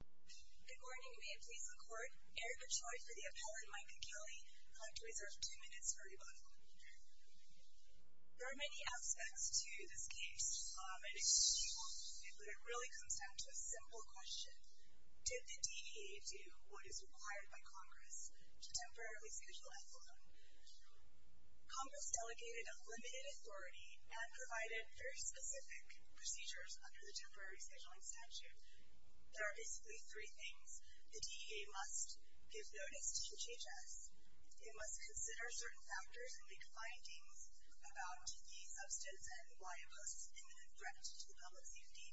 Good morning, may it please the court. Eric Ochoa for the appellant, Micah Kelly. I'd like to reserve two minutes for rebuttal. There are many aspects to this case, and it's a huge one, but it really comes down to a simple question. Did the DEA do what is required by Congress to temporarily schedule an appellant? Congress delegated unlimited authority and provided very specific procedures under the temporary scheduling statute There are basically three things. The DEA must give notice to GHS. It must consider certain factors and make findings about the substance and why it poses an imminent threat to the public's safety.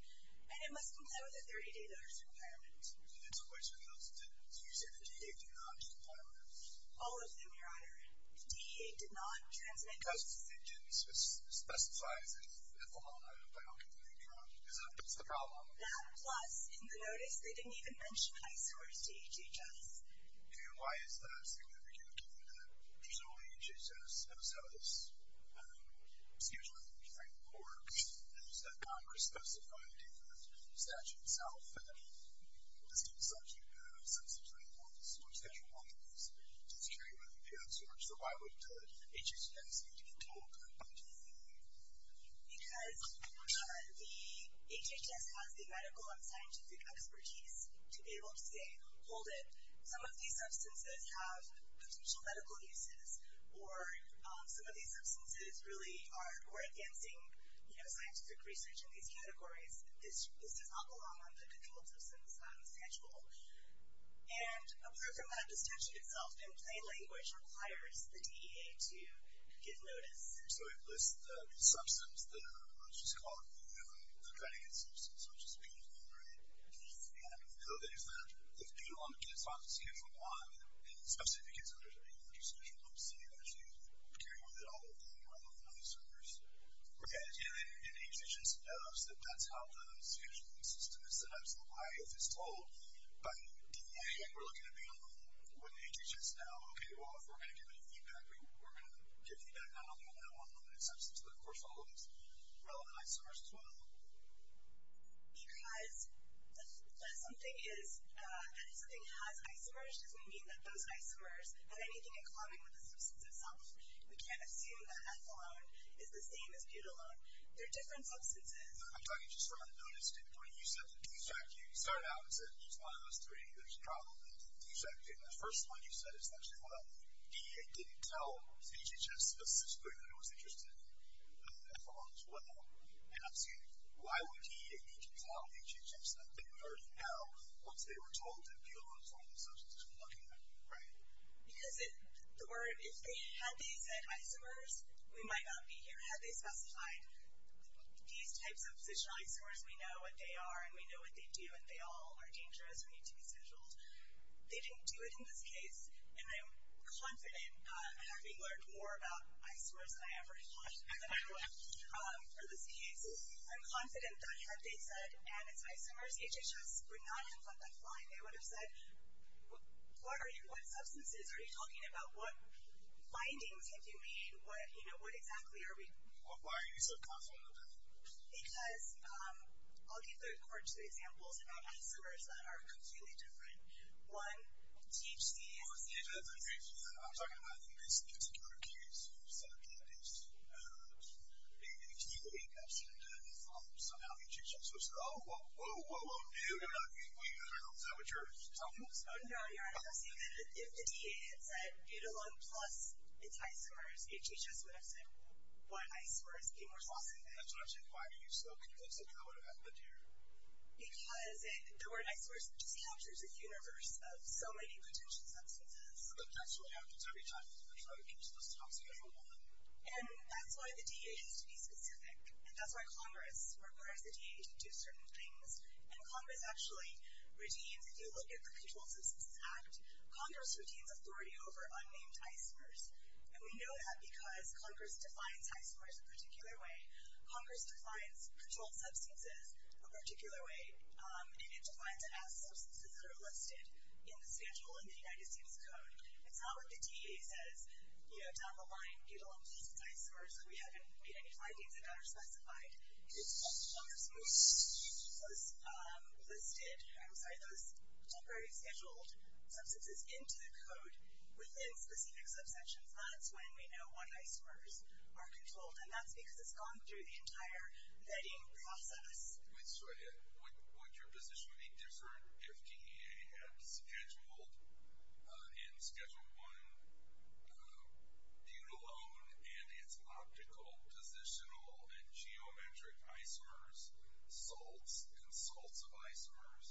And it must comply with a 30-day notice requirement. And to which of those did the DEA do not comply with? All of them, your honor. The DEA did not transmit... Because it didn't specify an ethyl halide biocomponent, your honor. Is that the problem? No. That, plus, in the notice, they didn't even mention isores to GHS. And why is that significant? Again, there's only GHS. That's how this, excuse me, framework works. And there's that Congress-specified statute itself. And then, as a result, you have substantially more isores that you want to use to secure you from the isores. So why would GHS need to be told to comply to the DEA? Because the GHS has the medical and scientific expertise to be able to say, hold it. Some of these substances have potential medical uses. Or some of these substances really are advancing scientific research in these categories. This does not belong on the controlled substance statute. And apart from that, the statute itself, in plain language, requires the DEA to give notice. So it lists the substance, what's this called? The benign substance, which is benign, right? Yeah. So there's that. It's due on the kids' office. It's due for a while. And it's not significant. So there's a huge social obesity that you carry with it all the time rather than on the servers. Right. And the GHS knows that that's how the social system is set up. So why, if it's told by the DEA, we're looking at being on the phone with the GHS now, okay, well, if we're going to give any feedback, not only on that one limited substance, but, of course, all of these relevant isomers as well? Because if something has isomers, does it mean that those isomers have anything in common with the substance itself? We can't assume that ethylone is the same as butylone. They're different substances. I'm talking just from a notice standpoint. You said the defect. You started out and said each one of those three, there's a problem with the defect. Okay, and the first one you said is actually, well, DEA didn't tell the GHS that this is good and it was interested in ethylone as well. And I'm saying why would DEA need to tell the GHS that they already know once they were told to be on the phone with the social system looking at it, right? Because if they had these isomers, we might not be here. Had they specified these types of positional isomers, we know what they are, and we know what they do, and they all are dangerous and need to be scheduled. They didn't do it in this case, and I'm confident, having learned more about isomers than I ever have in my life, for this case, I'm confident that had they said, and it's isomers, GHS would not have let that fly. They would have said, what substances are you talking about? What findings have you made? What exactly are we? Why are you so confident about that? Because I'll give the court two examples about isomers that are completely different. One, THC. I'm talking about the basic insecurity case. You said that it's a DNA test, and somehow GHS was like, oh, whoa, whoa, whoa, whoa, dude, we don't know what you're talking about. No, you're right. I'm saying that if the DEA had said ethylone plus its isomers, GHS would have said why isomers be more toxic. That's what I'm saying. Why are you so convinced that that would have happened here? Because the word isomers just captures the universe of so many potential substances. It actually happens every time. It's one of the most toxic ever one. And that's why the DEA has to be specific, and that's why Congress requires the DEA to do certain things. And Congress actually redeems, if you look at the Controlled Substances Act, Congress redeems authority over unnamed isomers. And we know that because Congress defines isomers a particular way. Congress defines controlled substances a particular way, and it defines it as substances that are listed in the schedule in the United States Code. It's not what the DEA says, you know, down the line, ethylone plus its isomers, that we haven't made any findings about or specified. It's Congress moving those listed, I'm sorry, those temporary scheduled substances into the code within specific subsections. That's when we know what isomers are controlled, and that's because it's gone through the entire vetting process. Wait, so would your position be different if DEA had scheduled in Schedule I butylone and its optical, positional, and geometric isomers salts and salts of isomers?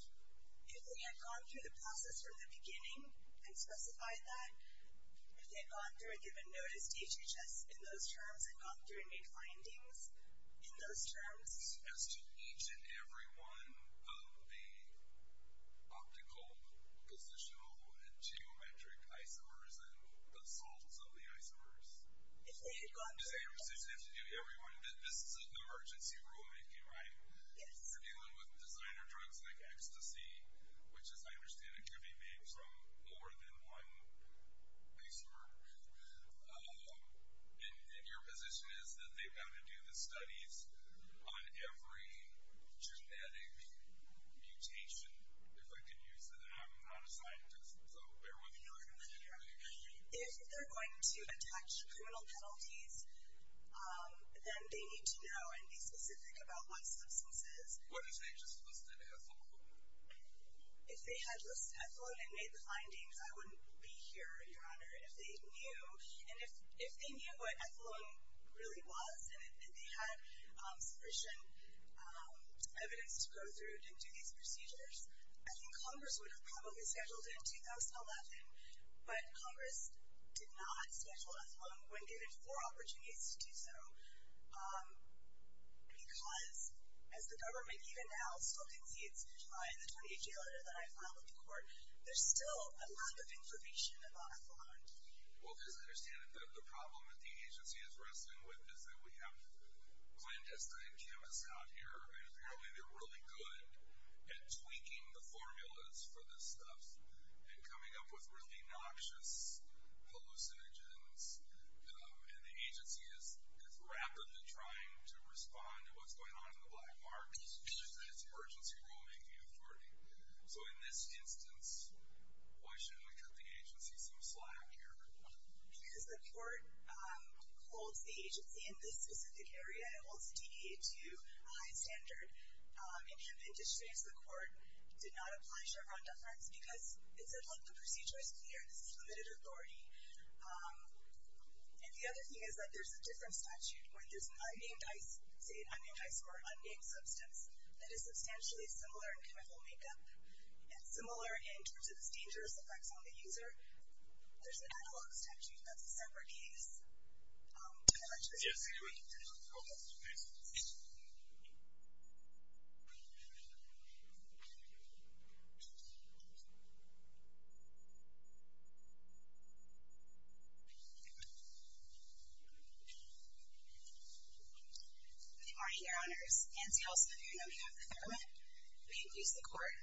If they had gone through the process from the beginning and specified that? If they had gone through and given notice to HHS in those terms and gone through and made findings in those terms? As to each and every one of the optical, positional, and geometric isomers and the salts of the isomers? If they had gone through. Does your position have to do with everyone? This is an emergency rulemaking, right? Yes. If you're dealing with designer drugs like Ecstasy, which as I understand it could be made from more than one isomer, and your position is that they've got to do the studies on every genetic mutation, if I could use that, and I'm not a scientist, so bear with me here. If they're going to attach criminal penalties, then they need to know and be specific about what substances. What if they just listed Ethylone? If they had listed Ethylone and made the findings, I wouldn't be here, Your Honor. If they knew what Ethylone really was and if they had sufficient evidence to go through and do these procedures, I think Congress would have probably scheduled it in 2011, but Congress did not schedule Ethylone when given four opportunities to do so because as the government even now still concedes, in the 2018 letter that I filed with the court, there's still a lack of information about Ethylone. Well, as I understand it, the problem that the agency is wrestling with is that we have clandestine chemists out here, and apparently they're really good at tweaking the formulas for this stuff and coming up with really noxious hallucinogens, and the agency is rapidly trying to respond to what's going on in the black market because it's emergency rulemaking authority. So in this instance, why shouldn't we cut the agency some slack here? Because the court holds the agency in this specific area. It holds DEHU a high standard. In hemp industries, the court did not apply Chevron deference because it said, look, the procedure is clear. This is limited authority. And the other thing is that there's a different statute where there's unnamed ice, say unnamed ice or unnamed substance, that is substantially similar in chemical makeup and similar in terms of its dangerous effects on the user. There's an analog statute that's a separate case. Yes. Good morning, Your Honors. As you also know, we have the government. We have the court.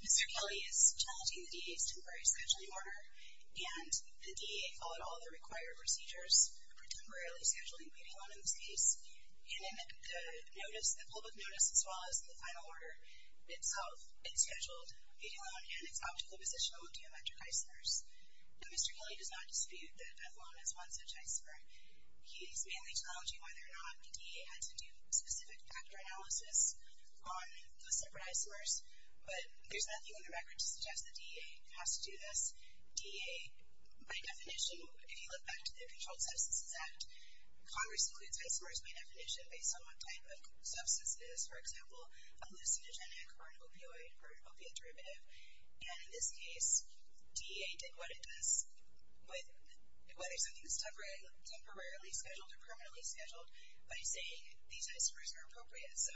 Mr. Kelly is challenging the DEH's temporary statute of order, and the DEH followed all the required procedures, pre-temporarily scheduling Betelon in this case, and in the notice, the public notice, as well as the final order itself, it scheduled Betelon and its optical positional deometric isomers. Now, Mr. Kelly does not dispute that Betelon is one such isomer. He's mainly challenging whether or not the DEH had to do specific factor analysis on those separate isomers, but there's nothing in the record to suggest the DEH has to do this. DEH, by definition, if you look back to the Controlled Substances Act, Congress includes isomers by definition based on what type of substance it is, for example, a hallucinogenic or an opioid or an opiate derivative, and in this case, DEH did what it does with whether something is temporarily scheduled or permanently scheduled by saying these isomers are appropriate. So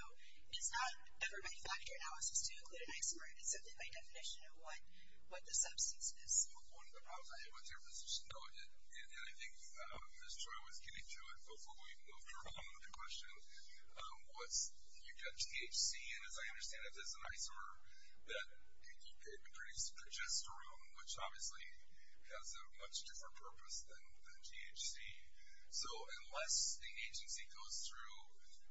it's not ever by factor analysis to include an isomer. It's simply by definition of what the substance is. One of the problems I had with your position, though, and I think Ms. Choi was getting to it before we moved on to the question, was you've got THC, and as I understand it, that's an isomer that you could produce progesterone, which obviously has a much different purpose than THC. So unless the agency goes through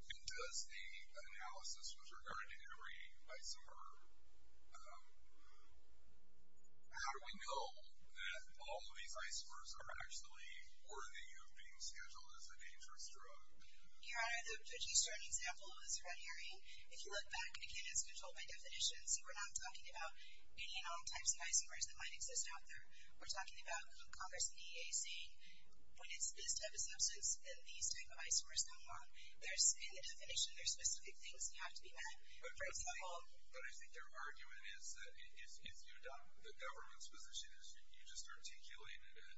and does the analysis with regard to every isomer, how do we know that all of these isomers are actually worthy of being scheduled as a dangerous drug? Your Honor, the progesterone example is runnery. If you look back, again, it's controlled by definition, so we're not talking about any known types of isomers that might exist out there. We're talking about Congress and the DEH saying when it's this type of substance, then these type of isomers no more. In the definition, there are specific things that have to be met. But I think their argument is that if the government's position is you just articulated it,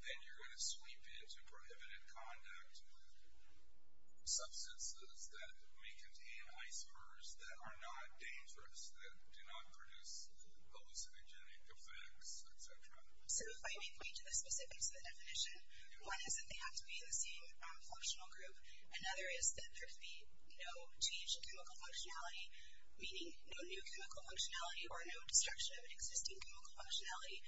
then you're going to sweep it to prohibited conduct with substances that may contain isomers that are not dangerous, that do not produce hallucinogenic effects, et cetera. One is that they have to be in the same functional group. Another is that there should be no change in chemical functionality, meaning no new chemical functionality or no destruction of an existing chemical functionality.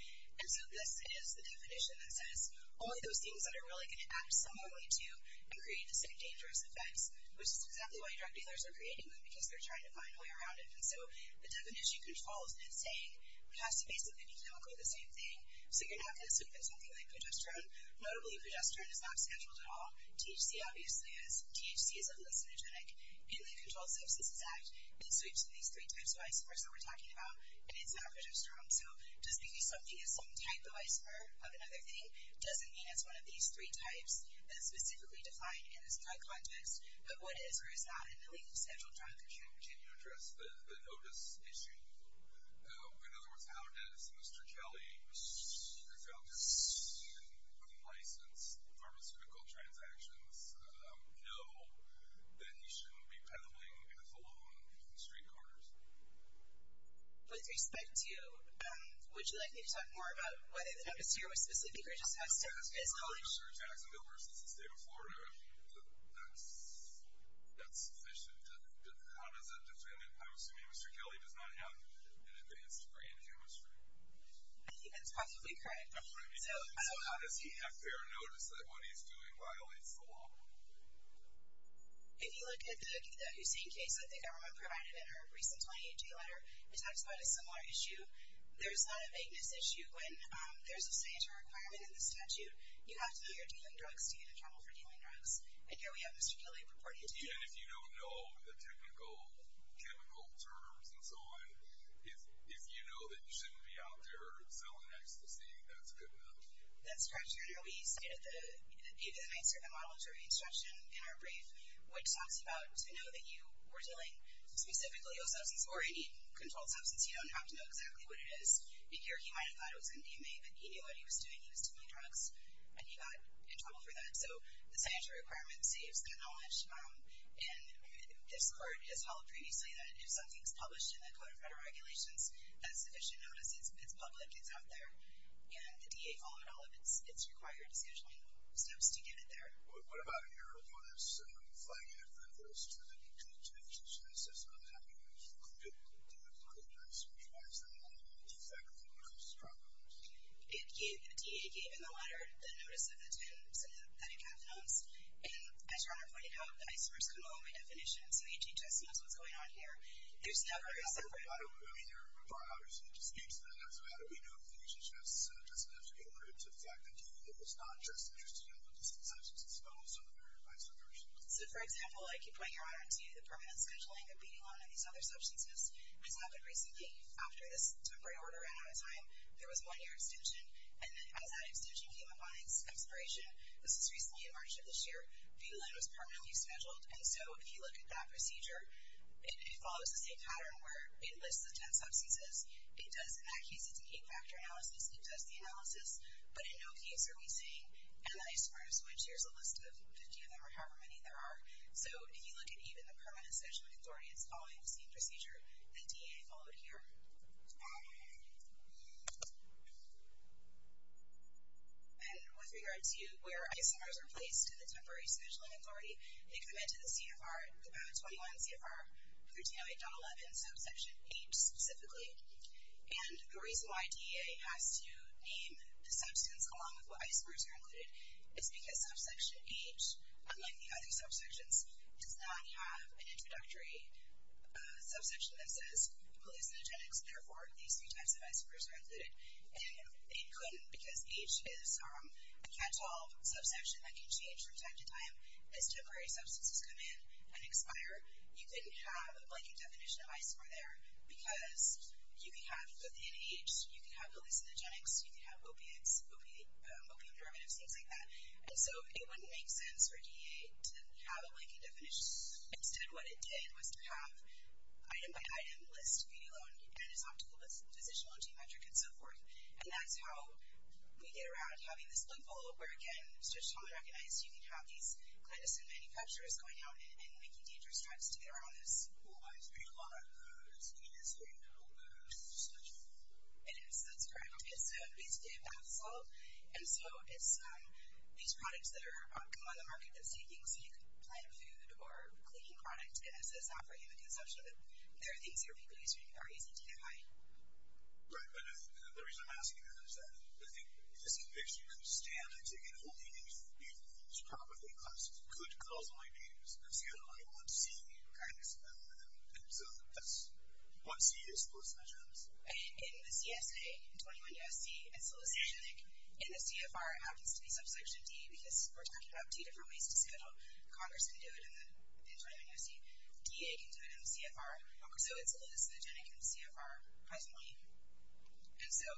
And so this is the definition that says only those things that are really going to act similarly to and create the same dangerous effects, which is exactly why drug dealers are creating them, because they're trying to find a way around it. And so the definition controls in saying it has to basically be chemically the same thing. So you're not going to sweep it to something like progesterone. Notably, progesterone is not scheduled at all. THC obviously is. THC is a hallucinogenic. In the Controlled Substances Act, it sweeps to these three types of isomers that we're talking about, and it's not progesterone. So just because something is some type of isomer of another thing doesn't mean it's one of these three types that is specifically defined in this drug context. But what is or is not a legally scheduled drug, for sure. Can you address the notice issue? In other words, how does Mr. Kelly, who I found to be a student with a license in pharmaceutical transactions, know that he shouldn't be peddling a cologne in the street corners? With respect to you, would you like me to talk more about whether the notice here was specific or just has to... As far as I'm sure, tax and bill versus the state of Florida, that's sufficient. How does that define it? I'm assuming Mr. Kelly does not have an advanced brain hemisphere. I think that's possibly correct. So how does he have fair notice that what he's doing violates the law? If you look at the Hussain case that the government provided in our recent 28-day letter, it talks about a similar issue. There's not a vagueness issue when there's a sanitary requirement in the statute. You have to be a dealer of drugs to be accountable for dealing drugs. And here we have Mr. Kelly reporting to you. And if you don't know the technical, chemical terms and so on, if you know that you shouldn't be out there selling ecstasy, that's good enough. That's correct, Your Honor. We cited the model of jury instruction in our brief, which talks about to know that you were dealing specifically with substances or, indeed, controlled substances. You don't have to know exactly what it is. Here he might have thought it was an EMA, but he knew what he was doing. He was dealing drugs, and he got in trouble for that. So the sanitary requirement saves that knowledge. And this Court has held previously that if something's published in the Code of Federal Regulations as sufficient notice, it's public, it's out there. And the DA followed all of its required decision-making steps to get it there. What about your bonus flagging evidence to the D.C. Judiciary System that you included the legal agreements, which might turn them into federal criminal justice problems? The DA gave in the letter the notice of attendance that he passed to us. And as Your Honor pointed out, I sort of skimmed over my definition, so HHS knows what's going on here. There's never a separate... I mean, Your Honor, obviously, it just speaks to that. So how do we know if the HHS just enough to get rid of the fact that he was not just interested in all of these substances, but also in their vice versa? So, for example, I keep pointing Your Honor to the permanent scheduling of beating on these other substances. It's happened recently. After this temporary order, I had a time there was a one-year extension, and then as that extension came up on expiration, this was recently in March of this year, fetal load was permanently scheduled. And so if you look at that procedure, it follows the same pattern where it lists the 10 substances. It does, in that case, it's an eight-factor analysis. It does the analysis. But in no case are we saying, and I sort of switched. Here's a list of 50 of them, or however many there are. So if you look at even the permanent scheduling authority, it's following the same procedure that DA followed here. And with regard to where isomers are placed in the temporary scheduling authority, they come into the CFR, the PAB 21 CFR 1308.11, subsection H, specifically. And the reason why DA has to name the substance along with what isomers are included is because subsection H, unlike the other subsections, does not have an introductory subsection that says hallucinogenics. Therefore, these three types of isomers are included. And it couldn't, because H is a catch-all subsection that can change from time to time. As temporary substances come in and expire, you couldn't have a blanket definition of isomer there because you could have, within H, you could have hallucinogenics, you could have opiates, opium derivatives, things like that. And so it wouldn't make sense for DA to have a blanket definition. Instead, what it did was to have item-by-item list, beauty alone, anatomical list, physician alone, geometric, and so forth. And that's how we get around having this bling-bling where, again, it's just commonly recognized you can have these clandestine manufacturers going out and making dangerous tries to get around this. It is, that's correct. It's basically a bath salt. And so it's these products that come on the market that say things like plant food or cleaning product as a software human consumption. They're things your people use are easy to identify. Right, but I think the reason I'm asking that is that I think this conviction of standards, again, holding things for people as properly classed, could cause my names to have a lot of 1C kind of smell to them. And so that's 1C is postnaturals. In the CSA, 21 U.S.C. and solicitation link, in the CFR, it happens to be subsection D because we're talking about two different ways to say how Congress can do it in the 21 U.S.C. DA can do it in the CFR. So it's hallucinogenic in the CFR, personally. And so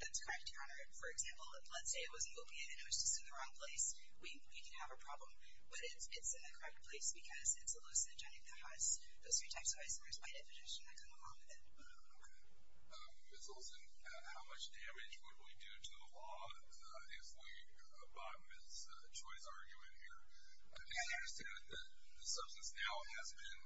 that's correct to honor it. For example, let's say it was an opiate and it was just in the wrong place. We can have a problem. But it's in the correct place because it's hallucinogenic that has those three types of isomers by definition that come along with it. Okay. Ms. Olson, how much damage would we do to the law if we abide by Ms. Choi's argument here? Because I understand that the substance now has been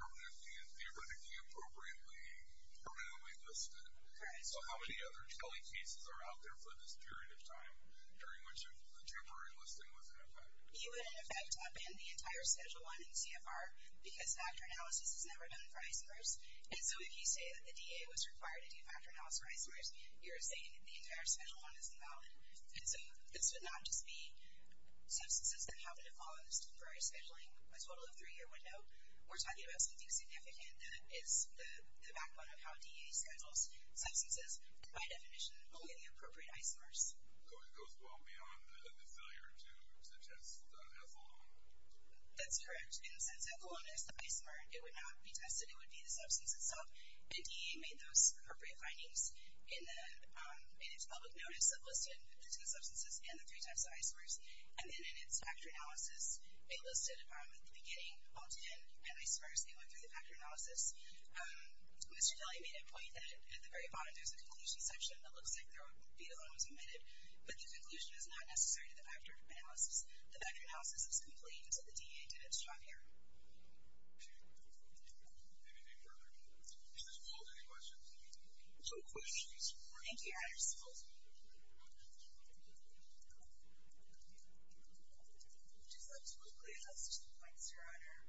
permanently and theoretically appropriately listed. Correct. So how many other Kelly cases are out there for this period of time during which a temporary listing was in effect? You would, in effect, upend the entire schedule 1 in CFR because factor analysis is never done for isomers. And so if you say that the DA was required to do factor analysis for isomers, you're saying the entire schedule 1 is invalid. And so this would not just be substances that have been paused during scheduling a total of three-year window. We're talking about something significant that is the backbone of how DA schedules substances that by definition will get the appropriate isomers. So it goes well beyond the failure to test ethylene. That's correct. And since ethylene is the isomer, it would not be tested. It would be the substance itself. And DA made those appropriate findings in its public notice of listing the substances and the three types of isomers. And then in its factor analysis, they listed at the beginning, all 10, and isomers. They went through the factor analysis. Mr. Kelly made a point that at the very bottom, there's a conclusion section that looks like there would be the one that was omitted. But the conclusion is not necessary to the factor analysis. The factor analysis is complete, and so the DA did its job here. Okay. Anything further? Ms. Wolk, any questions? No questions. Thank you. I just want to quickly address two points, Your Honor.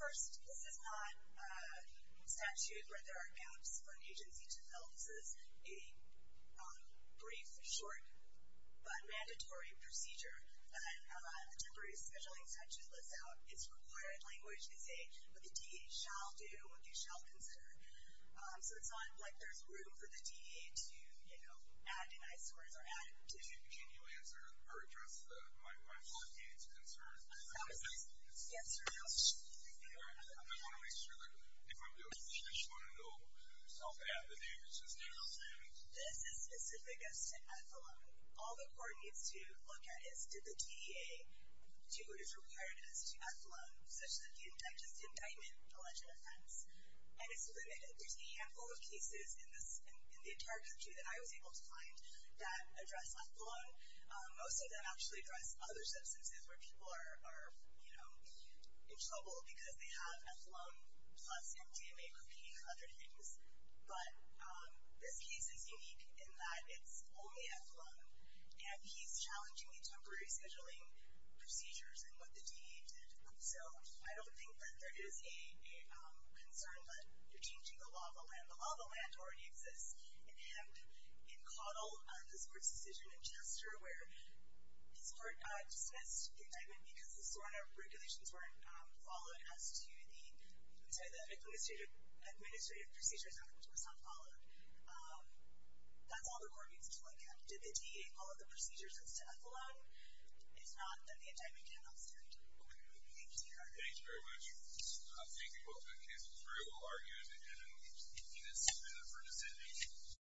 First, this is not a statute where there are gaps for an agency to fill. This is a brief, short, but mandatory procedure. A temporary scheduling statute lets out its required language and say what the DA shall do, what they shall consider. So it's not like there's room for the DA to, you know, add an I-squared or add a digit. Can you answer or address my colleague's concern? Yes, Your Honor. I want to make sure that if I'm doing a search window, to self-add the name. This is specific as to F-alone. All the court needs to look at is, did the DA do what is required as to F-alone, such that the index is indictment, alleged offense? And it's limited. There's a handful of cases in the entire country that I was able to find that address F-alone. Most of them actually address other substances where people are, you know, in trouble because they have F-alone plus MDMA cocaine and other things. But this case is unique in that it's only F-alone, and he's challenging the temporary scheduling procedures and what the DA did. So I don't think that there is a concern that you're changing the law of the land. The law of the land already exists. And in Caudill, this court's decision in Chester where this court dismissed the indictment because the SORNA regulations weren't followed as to the administrative procedures which was not followed. That's all the court needs to look at. Did the DA follow the procedures as to F-alone? It's not that the indictment cannot stand. Okay. Thank you, Your Honor. Thank you very much. Thank you both. That case was very well argued, and I'm going to leave it at that for discussion.